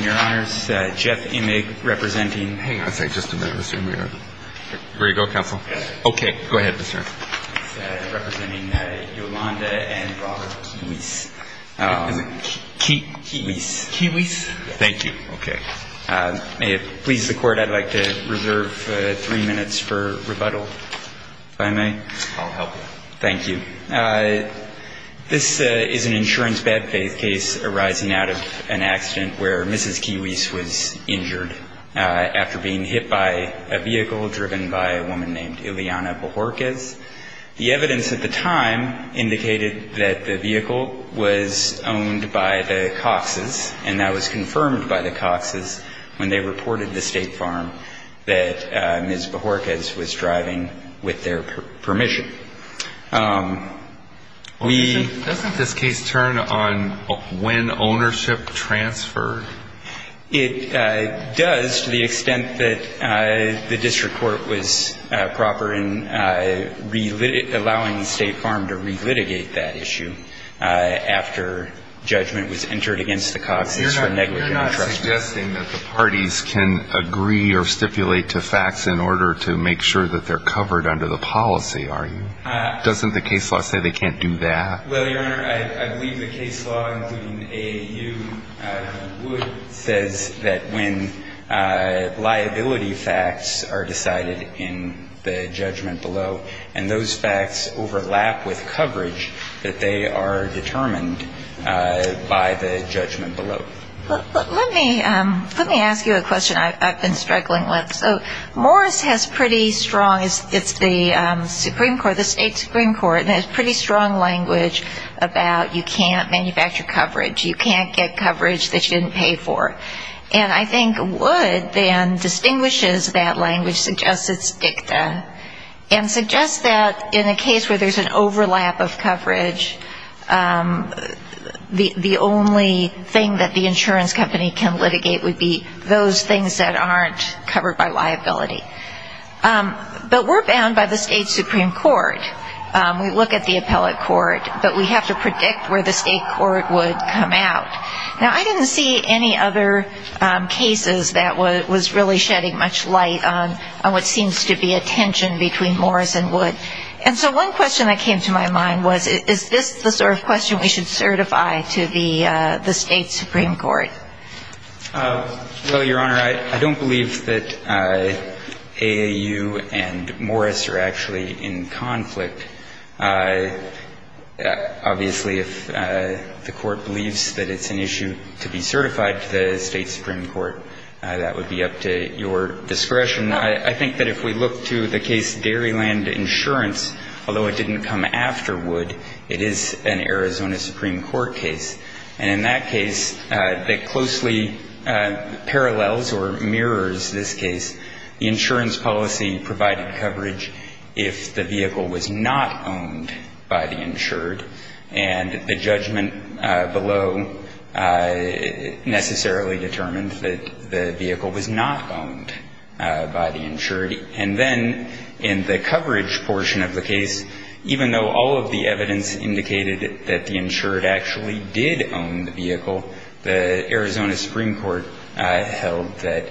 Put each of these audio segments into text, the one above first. Your Honors, Jeff Immig representing Hang on a second, just a minute, Mr. Immig. Ready to go, Counsel? Okay. Go ahead, Mr. Immig. Representing Yolanda and Robert Quihuis. Quihuis. Quihuis. Thank you. Okay. May it please the Court, I'd like to reserve three minutes for rebuttal, if I may. I'll help you. Thank you. This is an insurance bad faith case arising out of an accident where Mrs. Quihuis was injured after being hit by a vehicle driven by a woman named Ileana Bohorquez. The evidence at the time indicated that the vehicle was owned by the Cox's, and that was confirmed by the Cox's when they reported to State Farm that Ms. Bohorquez was driving with their permission. Doesn't this case turn on when ownership transferred? It does to the extent that the District Court was proper in allowing State Farm to re-litigate that issue after judgment was entered against the Cox's for negligent entrustment. You're not suggesting that the parties can agree or stipulate to facts in order to make sure that they're covered under the policy, are you? Doesn't the case law say they can't do that? Well, Your Honor, I believe the case law, including AAU, says that when liability facts are decided in the judgment below, and those facts overlap with coverage, that they are determined by the judgment below. Let me ask you a question I've been struggling with. So Morris has pretty strong, it's the Supreme Court, the State Supreme Court, and has pretty strong language about you can't manufacture coverage, you can't get coverage that you didn't pay for. And I think Wood then distinguishes that language, suggests it's dicta, and suggests that in a case where there's an overlap of coverage, the only thing that the insurance company can litigate would be those things that aren't covered by liability. But we're bound by the State Supreme Court. We look at the appellate court, but we have to predict where the state court would come out. Now, I didn't see any other cases that was really shedding much light on what seems to be a tension between Morris and Wood. And so one question that came to my mind was, is this the sort of question we should certify to the State Supreme Court? Well, Your Honor, I don't believe that AAU and Morris are actually in conflict. Obviously, if the court believes that it's an issue to be certified to the State Supreme Court, that would be up to your discretion. I think that if we look to the case Dairyland Insurance, although it didn't come after Wood, it is an Arizona Supreme Court case. And in that case, that closely parallels or mirrors this case, the insurance policy provided coverage if the vehicle was not owned by the insured. And the judgment below necessarily determined that the vehicle was not owned by the insured. And then in the coverage portion of the case, even though all of the evidence indicated that the insured actually did own the vehicle, the Arizona Supreme Court held that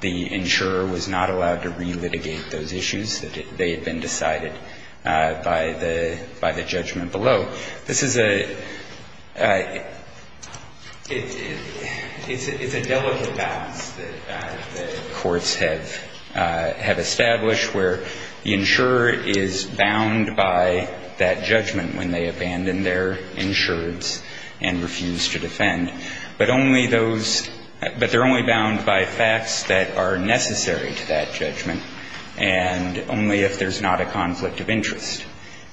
the insurer was not allowed to relitigate those issues, that they had been decided by the judgment below. This is a delicate balance that the courts have established where the insurer is bound by that judgment when they abandon their insureds and refuse to defend, but only those, but they're only bound by facts that are necessary to that judgment. And only if there's not a conflict of interest.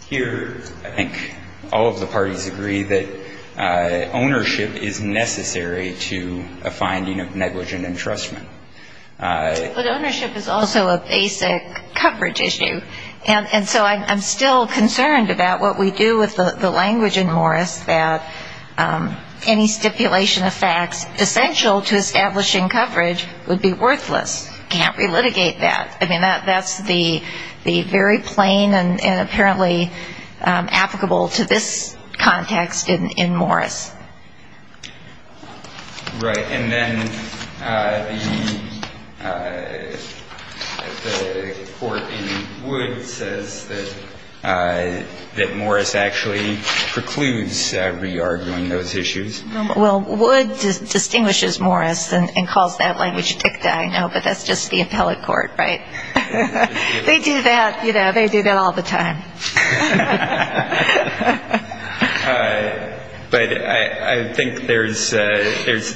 Here, I think all of the parties agree that ownership is necessary to a finding of negligent entrustment. But ownership is also a basic coverage issue. And so I'm still concerned about what we do with the language in Morris, that any stipulation of facts essential to establishing coverage would be worthless. Can't relitigate that. I mean, that's the very plain and apparently applicable to this context in Morris. Right. And then the court in Wood says that Morris actually precludes re-arguing those issues. Well, Wood distinguishes Morris and calls that language dicta, I know, but that's just the appellate court, right? They do that, you know, they do that all the time. But I think there's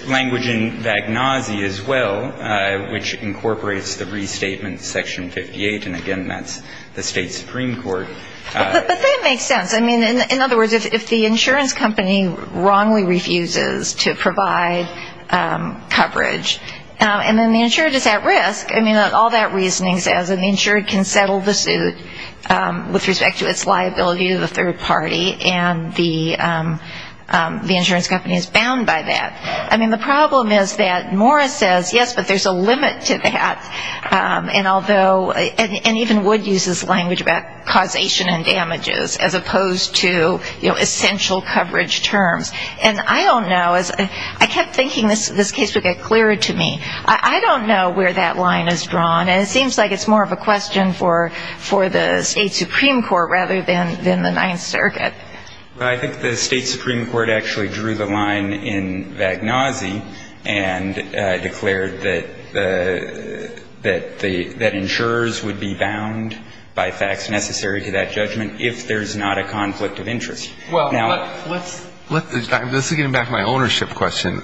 language in Vagnozzi as well, which incorporates the restatement section 58. And again, that's the state supreme court. But that makes sense. I mean, in other words, if the insurance company wrongly refuses to provide coverage, and then the insured is at risk, I mean, all that reasoning says an insured can settle the suit with respect to its liability to the third party. And the insurance company is bound by that. I mean, the problem is that Morris says, yes, but there's a limit to that. And even Wood uses language about causation and damages as opposed to, you know, essential coverage terms. And I don't know. I kept thinking this case would get clearer to me. I don't know where that line is drawn. And it seems like it's more of a question for the state supreme court rather than the Ninth Circuit. I think the state supreme court actually drew the line in Vagnozzi and declared that insurers would be bound by facts necessary to that judgment if there's not a conflict of interest. Now, let's get back to my ownership question.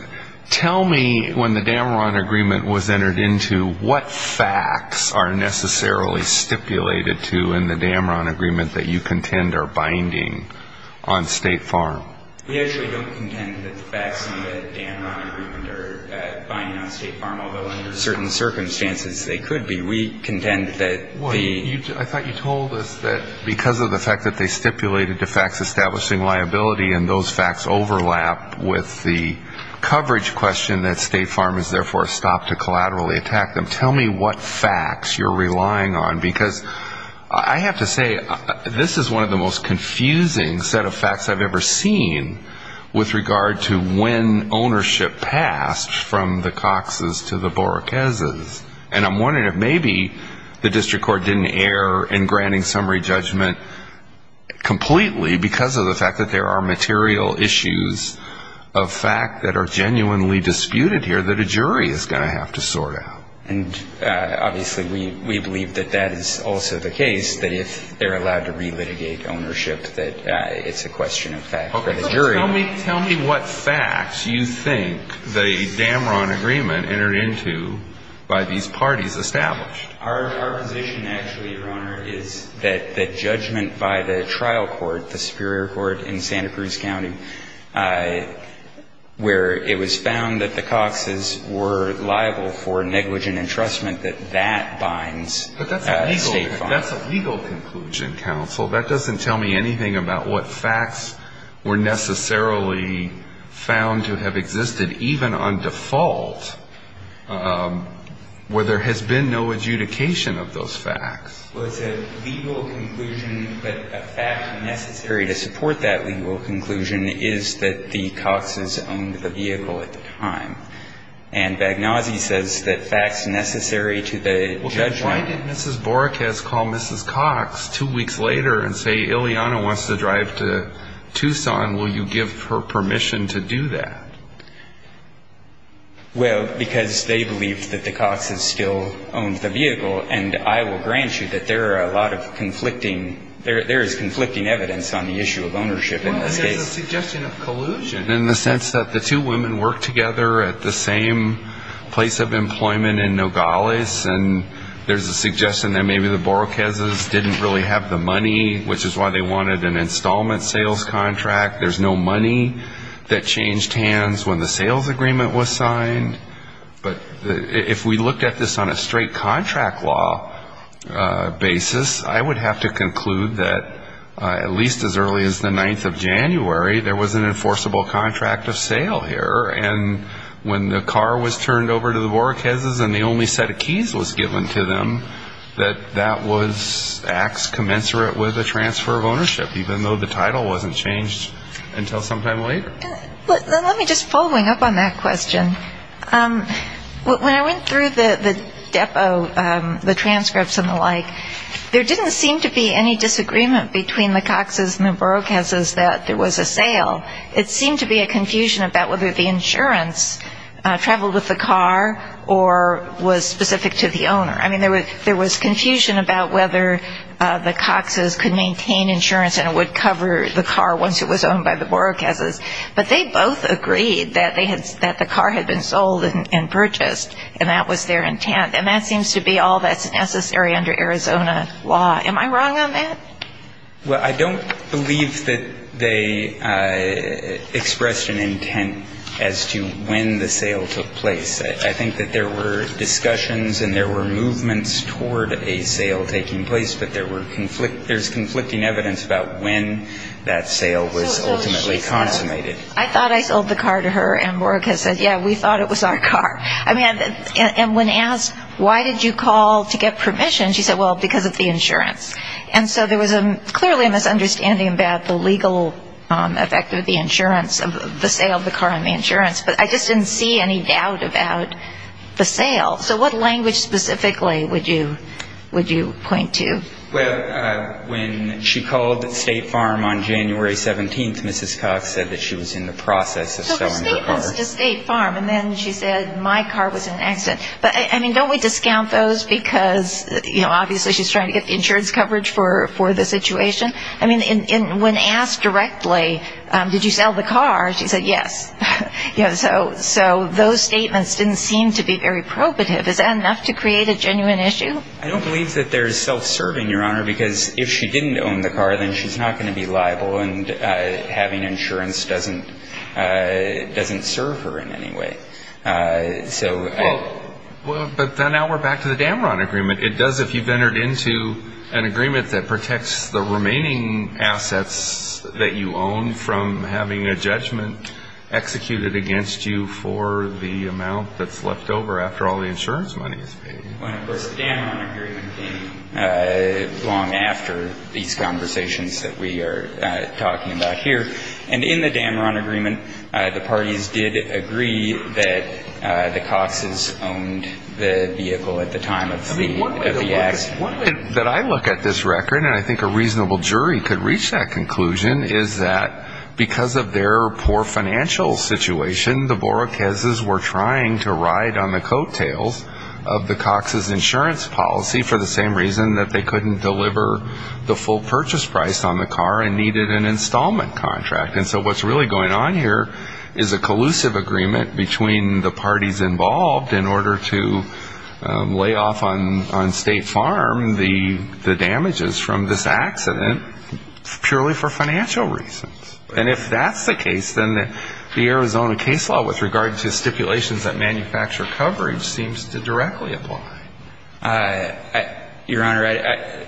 Tell me when the Dameron agreement was entered into, what facts are necessarily stipulated to in the Dameron agreement that you contend are binding on State Farm? We actually don't contend that the facts in the Dameron agreement are binding on State Farm, although under certain circumstances they could be. We contend that the ‑‑ I thought you told us that because of the fact that they stipulated the facts establishing liability and those facts overlap with the coverage question that State Farm has therefore stopped to collaterally attack them. Tell me what facts you're relying on, because I have to say this is one of the most confusing set of facts I've ever seen with regard to when ownership passed from the Coxes to the Borrakeses. And I'm wondering if maybe the district court didn't err in granting summary judgment completely because of the fact that there are material issues of fact that are genuinely disputed here that a jury is going to have to sort out. And obviously we believe that that is also the case, that if they're allowed to relitigate ownership that it's a question of fact for the jury. Tell me what facts you think the Dameron agreement entered into by these parties established. Our position actually, Your Honor, is that the judgment by the trial court, the superior court in Santa Cruz County, where it was found that the Coxes were liable for negligent entrustment, that that binds State Farm. But that's a legal conclusion, counsel. That doesn't tell me anything about what facts were necessarily found to have existed, even on default, where there has been no adjudication of those facts. Well, it's a legal conclusion, but a fact necessary to support that legal conclusion is that the Coxes owned the vehicle at the time. And Bagnozzi says that facts necessary to the judgment. Why did Mrs. Boricaz call Mrs. Cox two weeks later and say, Ileana wants to drive to Tucson, will you give her permission to do that? Well, because they believed that the Coxes still owned the vehicle, and I will grant you that there are a lot of conflicting, there is conflicting evidence on the issue of ownership in this case. It's a suggestion of collusion. In the sense that the two women worked together at the same place of employment in Nogales, and there's a suggestion that maybe the Boricazes didn't really have the money, which is why they wanted an installment sales contract. There's no money that changed hands when the sales agreement was signed. But if we looked at this on a straight contract law basis, I would have to conclude that at least as early as the 9th of January, when Mrs. Boricaz signed the contract, there was no money that changed hands. At least as early as the 9th of January, there was an enforceable contract of sale here. And when the car was turned over to the Boricazes and the only set of keys was given to them, that that was acts commensurate with a transfer of ownership, even though the title wasn't changed until some time later. Let me just, following up on that question, when I went through the depot, the transcripts and the like, there didn't seem to be any disagreement between the Coxes and the Boricazes that there was a sale agreement. It seemed to be a confusion about whether the insurance traveled with the car or was specific to the owner. I mean, there was confusion about whether the Coxes could maintain insurance and it would cover the car once it was owned by the Boricazes. But they both agreed that the car had been sold and purchased, and that was their intent. And that seems to be all that's necessary under Arizona law. Am I wrong on that? Well, I don't believe that they expressed an intent as to when the sale took place. I think that there were discussions and there were movements toward a sale taking place, but there's conflicting evidence about when that sale was ultimately consummated. I thought I sold the car to her and Boricaz said, yeah, we thought it was our car. And when asked, why did you call to get permission, she said, well, because of the insurance. And so there was clearly a misunderstanding about the legal effect of the insurance of the sale of the car on the insurance. But I just didn't see any doubt about the sale. So what language specifically would you point to? Well, when she called State Farm on January 17th, Mrs. Cox said that she was in the process of selling her car. So the statements to State Farm, and then she said my car was an accident. But, I mean, don't we discount those because, you know, obviously she's trying to get the insurance coverage for the situation? I mean, when asked directly, did you sell the car, she said yes. So those statements didn't seem to be very probative. Is that enough to create a genuine issue? I don't believe that there's self-serving, Your Honor, because if she didn't own the car, then she's not going to be liable and having insurance doesn't serve her in any way. But now we're back to the Damron agreement. It does, if you've entered into an agreement that protects the remaining assets that you own from having a judgment executed against you for the amount that's left over after all the insurance money is paid. Well, of course, the Damron agreement came long after these conversations that we are talking about here. And in the Damron agreement, the parties did agree that the Coxes owned the vehicle at the time of the accident. One way that I look at this record, and I think a reasonable jury could reach that conclusion, is that because of their poor financial situation, the Borrachezes were trying to ride on the coattails of the Coxes' insurance policy for the same reason that they couldn't deliver the full purchase price on the car and needed an installment contract. And so what's really going on here is a collusive agreement between the parties involved in order to lay off on some of the insurance. And so what's going on here is that the Borrachezes are trying to lay off on State Farm the damages from this accident purely for financial reasons. And if that's the case, then the Arizona case law with regard to stipulations that manufacture coverage seems to directly apply. Your Honor,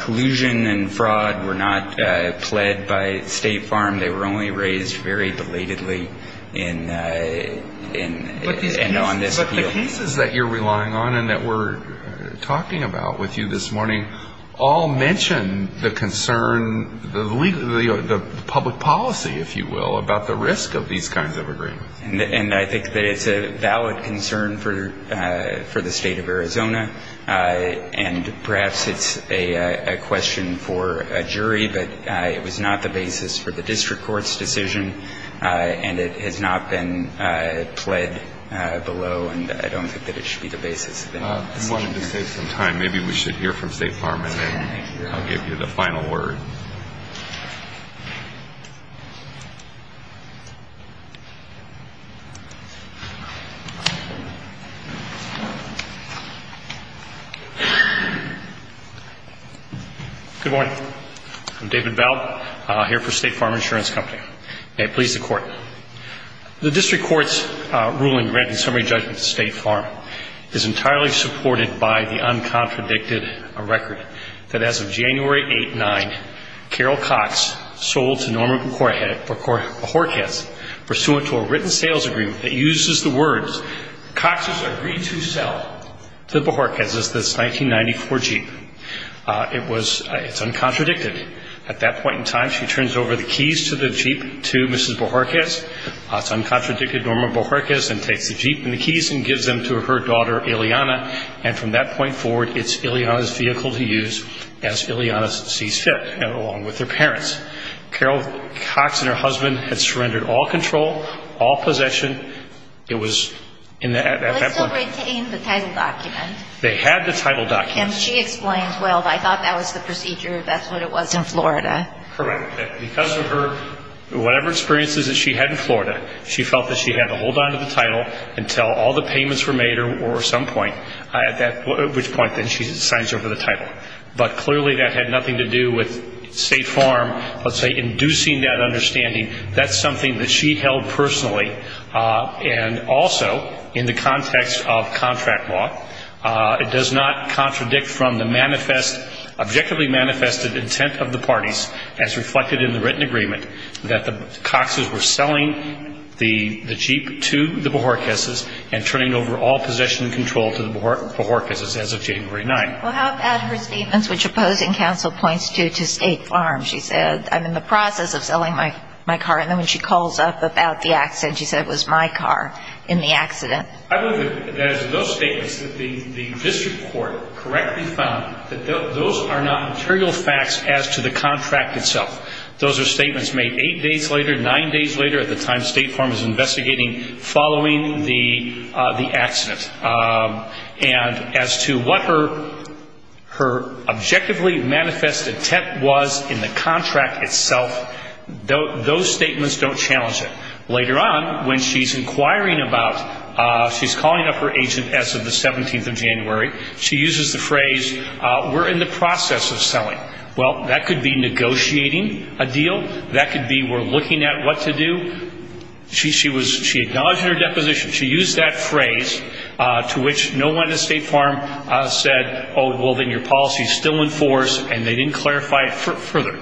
collusion and fraud were not pled by State Farm. They were only raised very belatedly in this appeal. The cases that you're relying on and that we're talking about with you this morning all mention the concern, the public policy, if you will, about the risk of these kinds of agreements. And I think that it's a valid concern for the State of Arizona. And perhaps it's a question for a jury, but it was not the basis for the district court's decision. And it has not been pled below, and I don't think that it should be the basis of any decision here. I wanted to save some time. Maybe we should hear from State Farm, and then I'll give you the final word. Good morning. I'm David Bell, here for State Farm Insurance Company. May it please the Court. The district court's ruling granting summary judgment to State Farm is entirely supported by the uncontradicted record that as of January 8-9, Carol Cox sold to Norman Borrachez, pursuant to a written sales agreement that uses the words Cox has agreed to sell to Borrachez's 1994 Jeep. It's uncontradicted. At that point in time, she turns over the keys to the Jeep to Mrs. Borrachez. It's uncontradicted. Norman Borrachez then takes the Jeep and the keys and gives them to her daughter, Ileana, and from that point forward, it's Ileana's vehicle to use as Ileana sees fit, along with her parents. Carol Cox and her husband had surrendered all control, all possession. They still retained the title document. They had the title document. And she explained, well, I thought that was the procedure, that's what it was in Florida. Correct. Because of her, whatever experiences that she had in Florida, she felt that she had to hold on to the title until all the payments were made, or at some point, at which point then she signs over the title. But clearly that had nothing to do with State Farm, let's say, inducing that understanding. That's something that she held personally. And also, in the context of contract law, it does not contradict from the manifest, objectively manifested intent of the parties, as reflected in the written agreement, that the Coxes were selling the Jeep to the Borrachez's and turning over all possession and control to the Borrachez's as of January 9th. Well, how about her statements, which opposing counsel points to, to State Farm? She said, I'm in the process of selling my car. And then when she calls up about the accident, she said, it was my car in the accident. I believe that it was those statements that the district court correctly found that those are not material facts as to the contract itself. Those are statements made eight days later, nine days later, at the time State Farm is investigating following the accident. And as to what her objectively manifested intent was in the contract itself, those statements don't challenge it. Later on, when she's inquiring about, she's calling up her agent as of the 17th of January, she uses the phrase, we're in the process of selling. Well, that could be negotiating a deal. That could be we're looking at what to do. She acknowledged her deposition. She used that phrase to which no one at State Farm said, oh, well, then your policy is still in force. And they didn't clarify it further.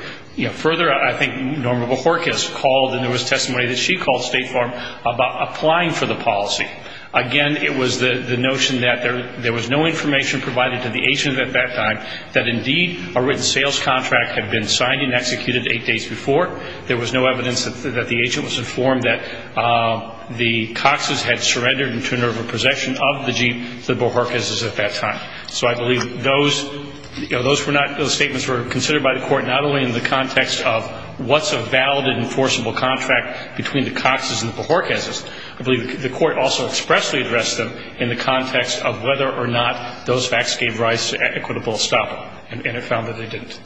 Further, I think Norma Borrachez called, and there was testimony that she called State Farm about applying for the policy. Again, it was the notion that there was no information provided to the agent at that time that indeed a written sales contract had been signed and executed eight days before. There was no evidence that the agent was informed that the Cox's had surrendered in turn over possession of the Jeep to the Borrachez's at that time. So I believe those were not, those statements were considered by the court not only in the context of what's a valid and enforceable contract between the Cox's and the Borrachez's. I believe the court also expressly addressed them in the context of whether or not those facts gave rise to equitable estoppel. And it found that they didn't.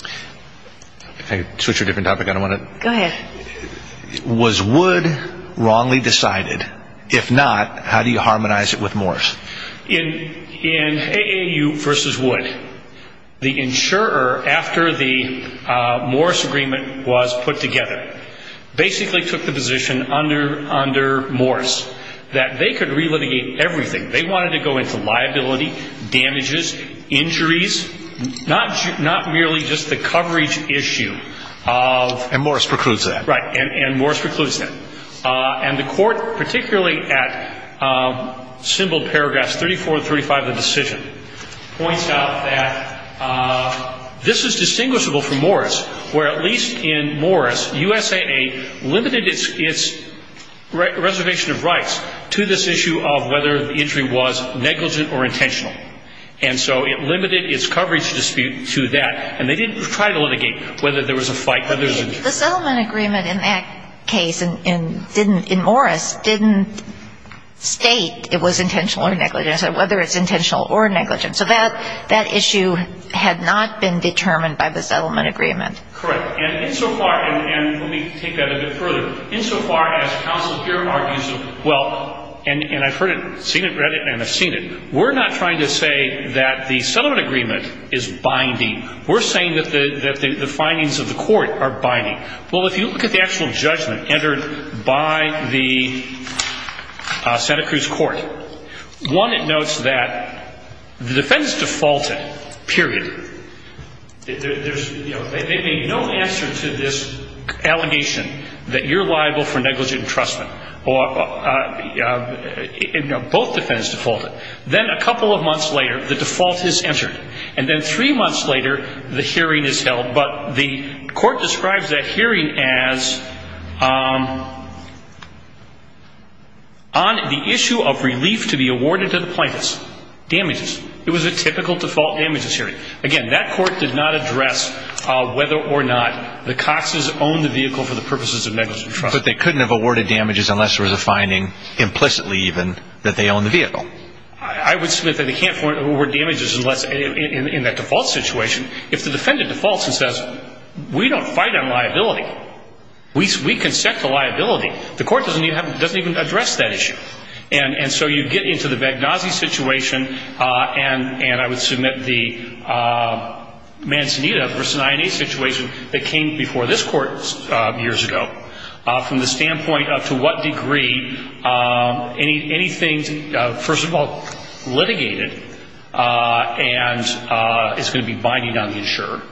Can I switch to a different topic? Go ahead. Was Wood wrongly decided? If not, how do you harmonize it with Morris? In AAU versus Wood, the insurer, after the Morris agreement was put together, basically took the position under Morris that they could relitigate everything. They wanted to go into liability, damages, injuries, not merely just the coverage issue of… And Morris precludes that. Right. And Morris precludes that. And the court, particularly at symbol paragraphs 34 and 35 of the decision, points out that this is distinguishable from Morris, where at least in Morris, USAA limited its reservation of rights to this issue of whether the injury was negligent or intentional. And so it limited its coverage dispute to that. And they didn't try to litigate whether there was a fight, whether there was an injury. But the settlement agreement in that case in Morris didn't state it was intentional or negligent. It said whether it's intentional or negligent. So that issue had not been determined by the settlement agreement. Correct. And insofar, and let me take that a bit further, insofar as counsel here argues, well, and I've heard it, seen it, read it, and I've seen it, we're not trying to say that the settlement agreement is binding. We're saying that the findings of the court are binding. Well, if you look at the actual judgment entered by the Santa Cruz court, one, it notes that the defendants defaulted, period. There's no answer to this allegation that you're liable for negligent entrustment. Both defendants defaulted. Then a couple of months later, the default is entered. And then three months later, the hearing is held. But the court describes that hearing as on the issue of relief to be awarded to the plaintiffs. Damages. It was a typical default damages hearing. Again, that court did not address whether or not the Coxes owned the vehicle for the purposes of negligent entrustment. But they couldn't have awarded damages unless there was a finding, implicitly even, that they owned the vehicle. I would submit that they can't award damages in that default situation. If the defendant defaults and says, we don't fight on liability. We can set the liability. The court doesn't even address that issue. And so you get into the Vagnozzi situation, and I would submit the Manzanita v. INA situation that came before this court years ago. From the standpoint of to what degree anything, first of all, litigated and is going to be binding on the insurer.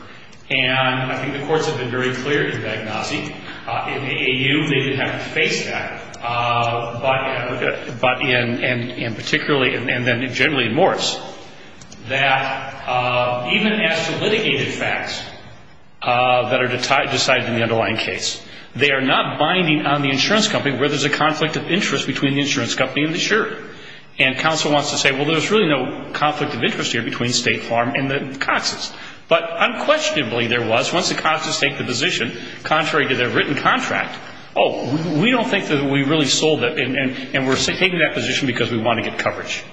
And I think the courts have been very clear in Vagnozzi. In the AU, they didn't have to face that. But in particularly, and then generally in Morris, that even as to litigated facts that are decided in the underlying case, they are not binding on the insurance company where there's a conflict of interest between the insurance company and the insurer. And counsel wants to say, well, there's really no conflict of interest here between State Farm and the Coxes. But unquestionably there was. Once the Coxes take the position, contrary to their written contract, oh, we don't think that we really sold it, and we're taking that position because we want to get coverage.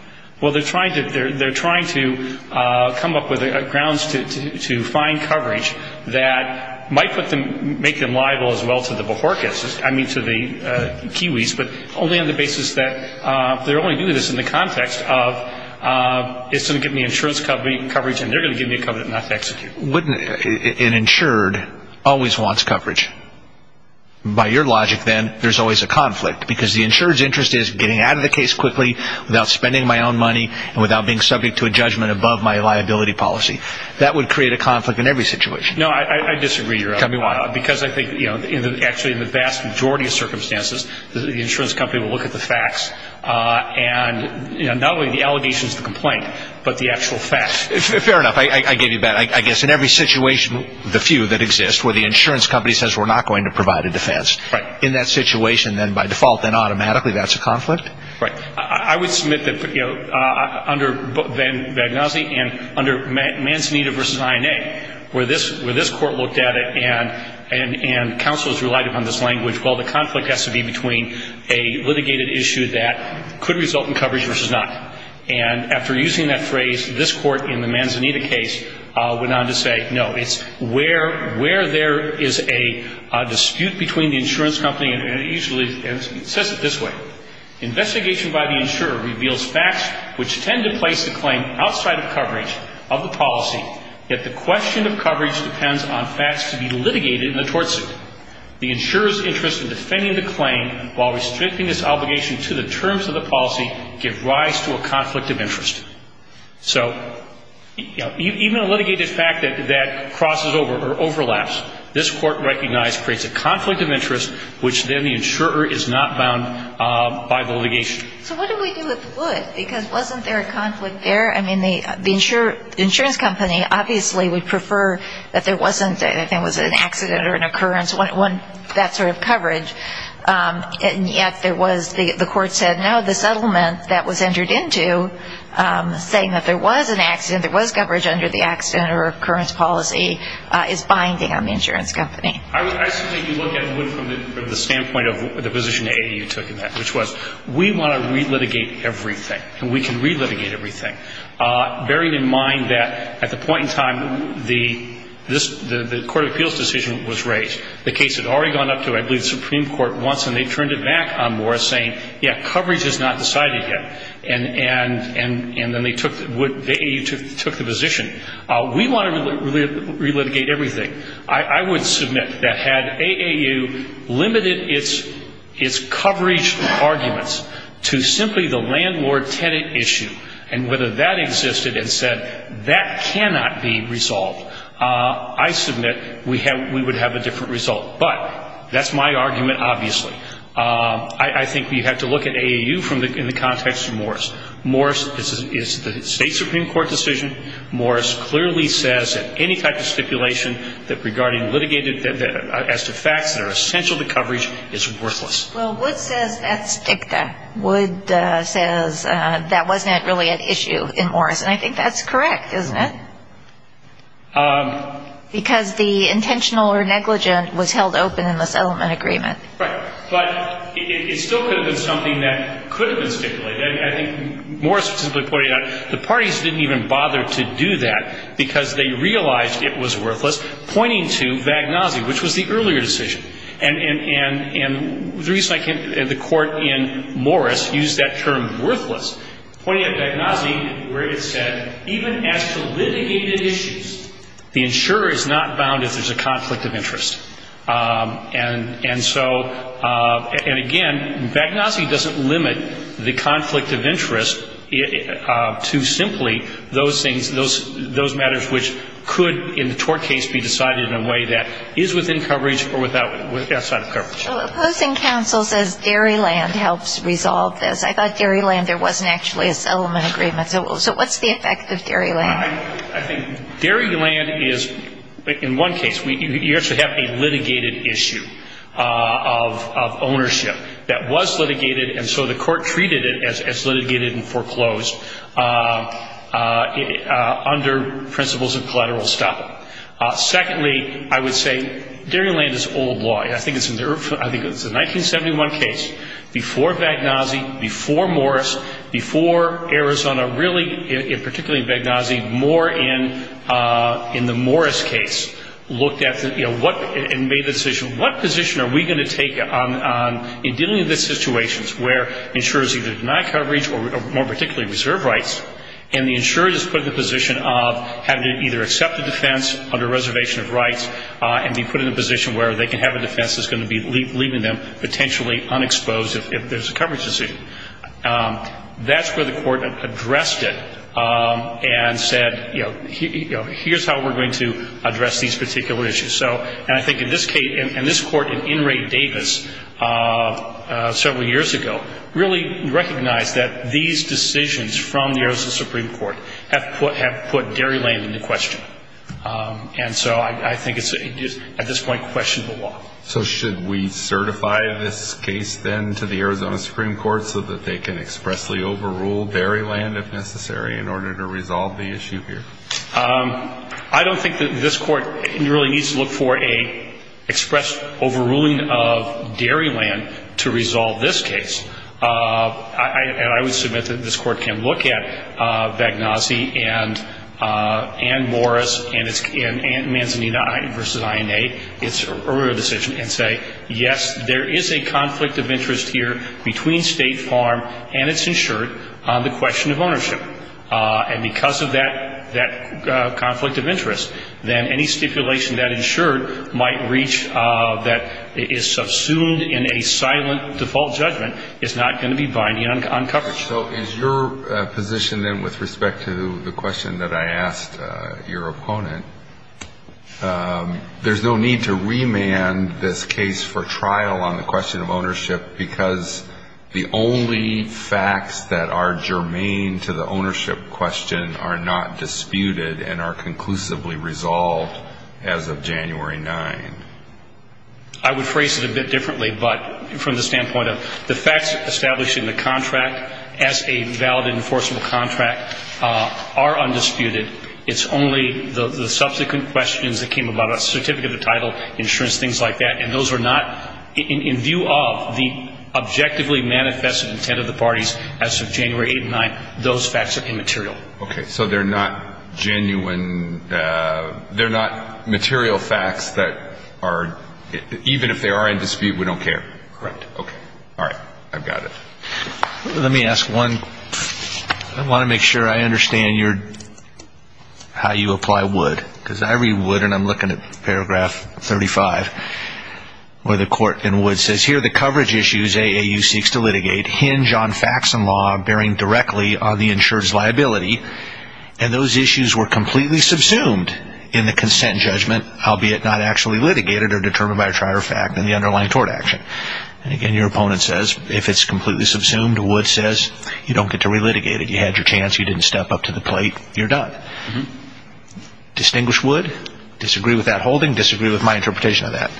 Well, they're trying to come up with grounds to find coverage that might make them liable as well to the Kiwis, but only on the basis that they're only doing this in the context of it's going to give me insurance coverage and they're going to give me coverage not to execute. An insured always wants coverage. By your logic, then, there's always a conflict. Because the insured's interest is getting out of the case quickly without spending my own money and without being subject to a judgment above my liability policy. That would create a conflict in every situation. No, I disagree. Tell me why. Because I think actually in the vast majority of circumstances the insurance company will look at the facts and not only the allegations of the complaint, but the actual facts. Fair enough. I gave you a bet. I guess in every situation, the few that exist, where the insurance company says we're not going to provide a defense. Right. In that situation, then, by default, then automatically that's a conflict? Right. I would submit that under Vagnozzi and under Manzanita v. INA, where this court looked at it and counsels relied upon this language, well, the conflict has to be between a litigated issue that could result in coverage versus not. And after using that phrase, this court in the Manzanita case went on to say, No, it's where there is a dispute between the insurance company and usually it says it this way. Investigation by the insurer reveals facts which tend to place the claim outside of coverage of the policy, yet the question of coverage depends on facts to be litigated in the tort suit. The insurer's interest in defending the claim while restricting this obligation to the terms of the policy give rise to a conflict of interest. So, you know, even a litigated fact that crosses over or overlaps, this court recognized creates a conflict of interest which then the insurer is not bound by the litigation. So what do we do if it would? Because wasn't there a conflict there? I mean, the insurance company obviously would prefer that there wasn't, I think it was an accident or an occurrence, that sort of coverage, and yet there was the court said, No, the settlement that was entered into saying that there was an accident, there was coverage under the accident or occurrence policy is binding on the insurance company. I simply look at it from the standpoint of the position that you took in that, which was we want to re-litigate everything and we can re-litigate everything, bearing in mind that at the point in time the Court of Appeals decision was raised. The case had already gone up to, I believe, the Supreme Court once, and they turned it back on Morris saying, Yeah, coverage is not decided yet. And then they took the position. We want to re-litigate everything. I would submit that had AAU limited its coverage arguments to simply the landlord-tenant issue and whether that existed and said that cannot be resolved, I submit we would have a different result. But that's my argument, obviously. I think we have to look at AAU in the context of Morris. Morris is the state Supreme Court decision. Morris clearly says that any type of stipulation regarding litigated as to facts that are essential to coverage is worthless. Well, Wood says that's dicta. Wood says that wasn't really an issue in Morris. And I think that's correct, isn't it? Because the intentional or negligent was held open in the settlement agreement. Right. But it still could have been something that could have been stipulated. I think Morris was simply pointing out the parties didn't even bother to do that because they realized it was worthless, pointing to Vagnozzi, which was the earlier decision, and the reason I think the court in Morris used that term, worthless, pointing at Vagnozzi where it said even as to litigated issues, the insurer is not bound if there's a conflict of interest. And so, and again, Vagnozzi doesn't limit the conflict of interest to simply those things, those matters which could in the tort case be decided in a way that is within coverage or outside of coverage. Opposing counsel says dairy land helps resolve this. I thought dairy land, there wasn't actually a settlement agreement. So what's the effect of dairy land? I think dairy land is, in one case, you actually have a litigated issue of ownership that was litigated, and so the court treated it as litigated and foreclosed under principles of collateral estoppel. Secondly, I would say dairy land is old law. I think it's a 1971 case before Vagnozzi, before Morris, before Arizona. Really, particularly in Vagnozzi, more in the Morris case looked at and made the decision, what position are we going to take in dealing with situations where insurers either deny coverage or more particularly reserve rights, and the insurer is put in the position of having to either accept the defense under reservation of rights and be put in a position where they can have a defense that's going to be leaving them potentially unexposed if there's a coverage decision. That's where the court addressed it and said, you know, here's how we're going to address these particular issues. And I think in this case, and this court in In re Davis several years ago, really recognized that these decisions from the Arizona Supreme Court have put dairy land into question. And so I think it's at this point questionable law. So should we certify this case then to the Arizona Supreme Court so that they can expressly overrule dairy land, if necessary, in order to resolve the issue here? I don't think that this court really needs to look for an express overruling of dairy land to resolve this case. And I would submit that this court can look at Vagnozzi and Morris and Manzanita v. INA, its earlier decision, and say, yes, there is a conflict of interest here between State Farm and its insured on the question of ownership. And because of that conflict of interest, then any stipulation that insured might reach that is subsumed in a silent default judgment is not going to be binding on coverage. So is your position then with respect to the question that I asked your opponent, there's no need to remand this case for trial on the question of ownership because the only facts that are germane to the ownership question are not disputed and are conclusively resolved as of January 9th? I would phrase it a bit differently, but from the standpoint of the facts establishing the contract as a valid and enforceable contract are undisputed. It's only the subsequent questions that came about, a certificate of title, insurance, things like that, and those are not, in view of the objectively manifested intent of the parties as of January 8th and 9th, those facts are immaterial. Okay. So they're not genuine, they're not material facts that are, even if they are in dispute, we don't care. Correct. Okay. All right. I've got it. Let me ask one. I want to make sure I understand how you apply Wood because I read Wood and I'm looking at paragraph 35 where the court in Wood says, here the coverage issues AAU seeks to litigate hinge on facts and law bearing directly on the insured's liability and those issues were completely subsumed in the consent judgment, albeit not actually litigated or determined by a trial or fact in the underlying tort action. And again, your opponent says, if it's completely subsumed, Wood says, you don't get to re-litigate it. You had your chance, you didn't step up to the plate, you're done. Distinguish Wood, disagree with that holding, disagree with my interpretation of that.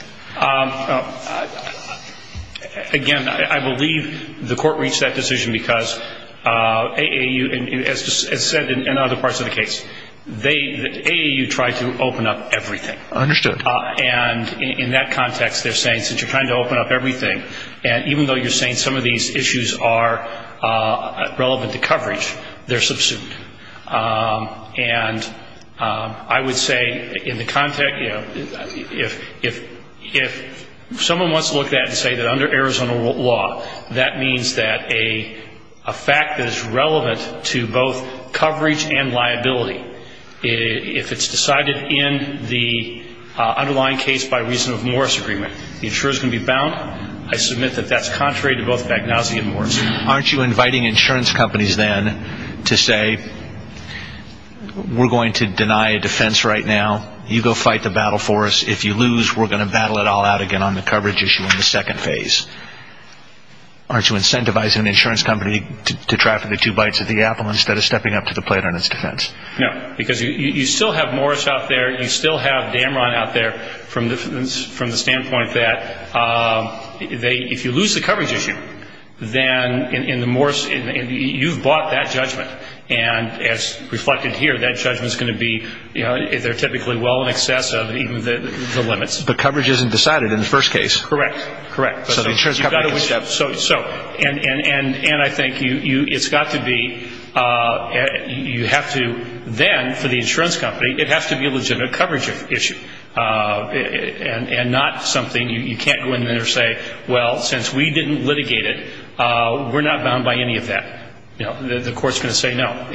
Again, I believe the court reached that decision because AAU, as said in other parts of the case, AAU tried to open up everything. Understood. And in that context, they're saying since you're trying to open up everything, and even though you're saying some of these issues are relevant to coverage, they're subsumed. And I would say in the context, you know, if someone wants to look at it and say that under Arizona law, that means that a fact that is relevant to both coverage and liability, if it's decided in the underlying case by reason of Morris agreement, the insurer is going to be bound. I submit that that's contrary to both Bagnozzi and Morris. Aren't you inviting insurance companies then to say, we're going to deny a defense right now. You go fight the battle for us. If you lose, we're going to battle it all out again on the coverage issue in the second phase. Aren't you incentivizing an insurance company to try for the two bites at the apple instead of stepping up to the plate on its defense? No. Because you still have Morris out there. You still have Damron out there from the standpoint that if you lose the coverage issue, then in the Morris, you've bought that judgment. And as reflected here, that judgment is going to be, you know, they're typically well in excess of even the limits. But coverage isn't decided in the first case. Correct. Correct. So, and I think it's got to be, you have to then, for the insurance company, it has to be a legitimate coverage issue. And not something you can't go in there and say, well, since we didn't litigate it, we're not bound by any of that. The court's going to say no.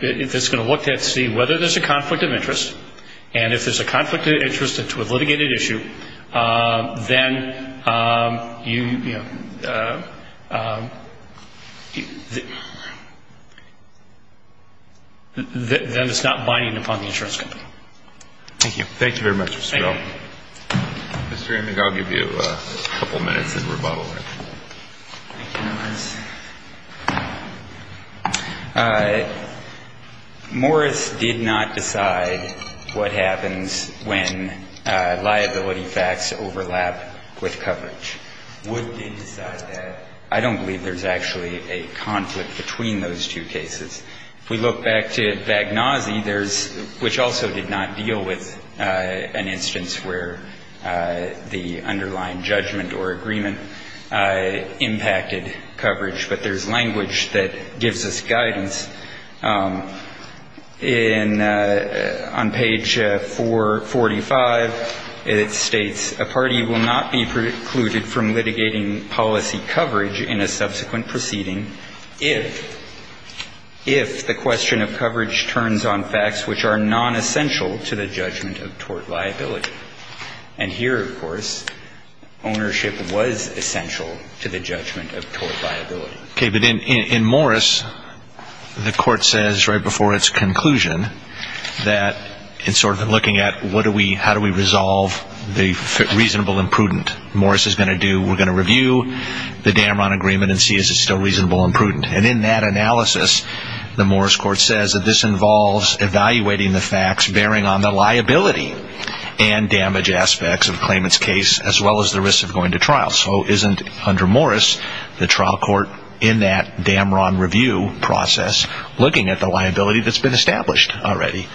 It's going to look to see whether there's a conflict of interest. And if there's a conflict of interest to a litigated issue, then, you know, then it's not binding upon the insurance company. Thank you. Thank you very much, Mr. Bell. Mr. Amick, I'll give you a couple minutes in rebuttal. Thank you, Morris. Morris did not decide what happens when liability facts overlap with coverage. Wood did decide that. I don't believe there's actually a conflict between those two cases. If we look back to Vagnozzi, which also did not deal with an instance where the underlying judgment or agreement impacted coverage, but there's language that gives us guidance. On page 445, it states, a party will not be precluded from litigating policy coverage in a subsequent proceeding if the question of coverage turns on facts which are nonessential to the judgment of tort liability. And here, of course, ownership was essential to the judgment of tort liability. Okay, but in Morris, the court says right before its conclusion that it's sort of looking at what do we, how do we resolve the reasonable and prudent? Morris is going to do, we're going to review the Damron agreement and see if it's still reasonable and prudent. And in that analysis, the Morris court says that this involves evaluating the facts bearing on the liability and damage aspects of the claimant's case as well as the risk of going to trial. So isn't, under Morris, the trial court in that Damron review process looking at the liability that's been established already?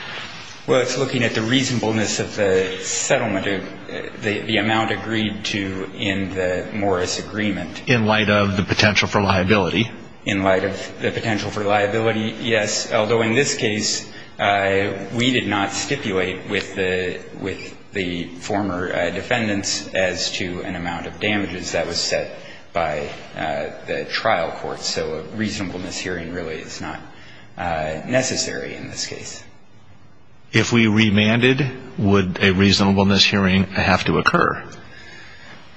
Well, it's looking at the reasonableness of the settlement of the amount agreed to in the Morris agreement. In light of the potential for liability. In light of the potential for liability, yes, although in this case, we did not stipulate with the former defendants as to an amount of damages that was set by the trial court. So a reasonableness hearing really is not necessary in this case. If we remanded, would a reasonableness hearing have to occur?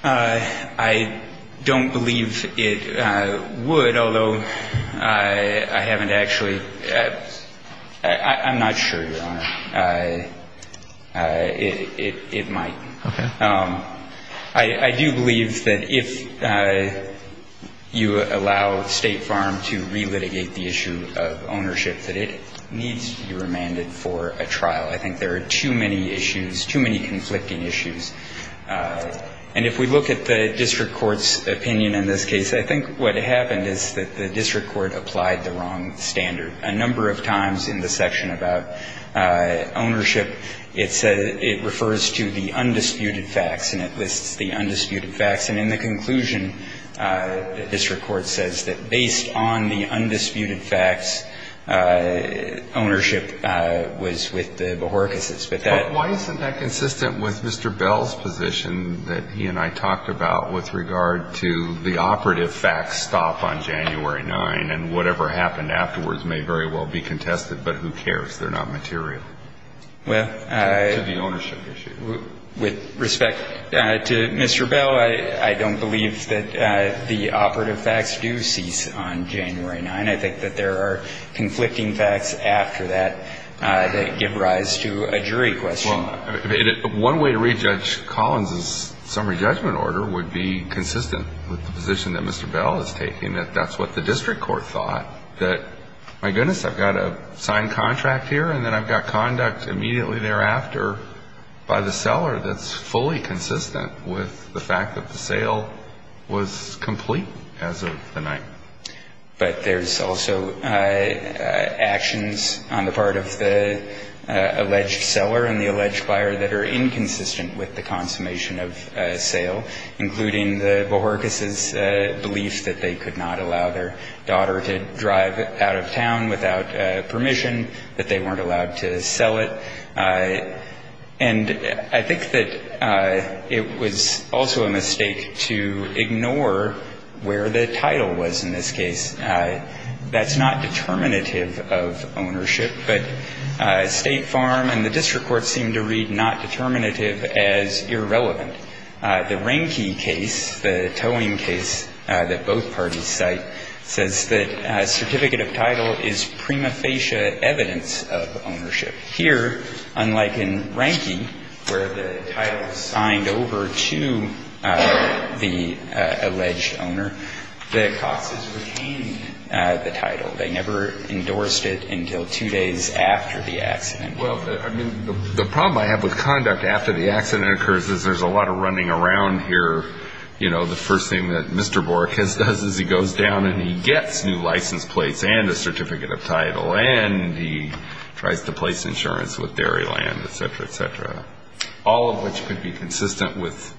I don't believe it would, although I haven't actually, I'm not sure, Your Honor. It might. Okay. I do believe that if you allow State Farm to relitigate the issue of ownership, that it needs to be remanded for a trial. I think there are too many issues, too many conflicting issues. And if we look at the district court's opinion in this case, I think what happened is that the district court applied the wrong standard. A number of times in the section about ownership, it refers to the undisputed facts, and it lists the undisputed facts. And in the conclusion, the district court says that based on the undisputed facts, ownership was with the Bohorikases. But that why isn't that consistent with Mr. Bell's position that he and I talked about with regard to the operative facts stop on January 9th, and whatever happened afterwards may very well be contested. But who cares? They're not material. To the ownership issue. With respect to Mr. Bell, I don't believe that the operative facts do cease on January 9th. I think that there are conflicting facts after that that give rise to a jury question. Well, one way to re-judge Collins' summary judgment order would be consistent with the position that Mr. Bell is taking, that that's what the district court thought, that my goodness, I've got a signed contract here, and then I've got conduct immediately thereafter by the seller that's fully consistent with the fact that the sale was complete as of the night. But there's also actions on the part of the alleged seller and the alleged buyer that are inconsistent with the consummation of sale, including the Bohorikases' belief that they could not allow their daughter to drive out of town without permission, that they weren't allowed to sell it. And I think that it was also a mistake to ignore where the title was in this case. That's not determinative of ownership, but State Farm and the district court seem to read not determinative as irrelevant. The Rehnke case, the towing case that both parties cite, says that certificate of title is prima facie evidence of ownership. Here, unlike in Rehnke, where the title is signed over to the alleged owner, the Coxes retain the title. They never endorsed it until two days after the accident. Well, I mean, the problem I have with conduct after the accident occurs is there's a lot of running around here, you know, the first thing that Mr. Bohorikase does is he goes down and he gets new license plates and a certificate of title, and he tries to place insurance with Dairyland, et cetera, et cetera, all of which could be consistent with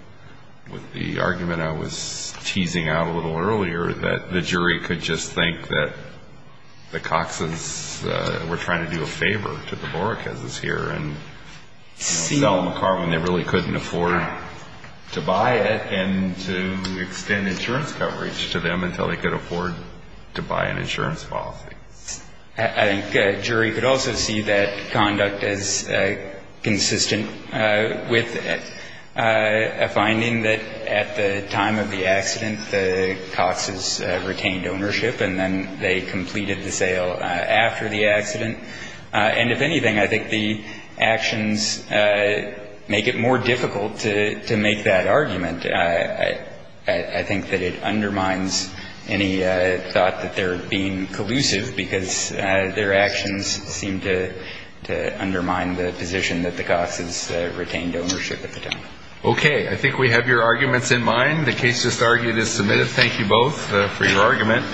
the argument I was teasing out a little earlier that the jury could just think that the Coxes were trying to do a favor to the Bohorikases here and sell them a car when they really couldn't afford to extend insurance coverage to them until they could afford to buy an insurance policy. I think a jury could also see that conduct as consistent with a finding that at the time of the accident, the Coxes retained ownership, and then they completed the sale after the accident. And if anything, I think the actions make it more difficult to make that argument. I think that it undermines any thought that they're being collusive because their actions seem to undermine the position that the Coxes retained ownership at the time. Okay. I think we have your arguments in mind. The case just argued is submitted. Thank you both for your argument.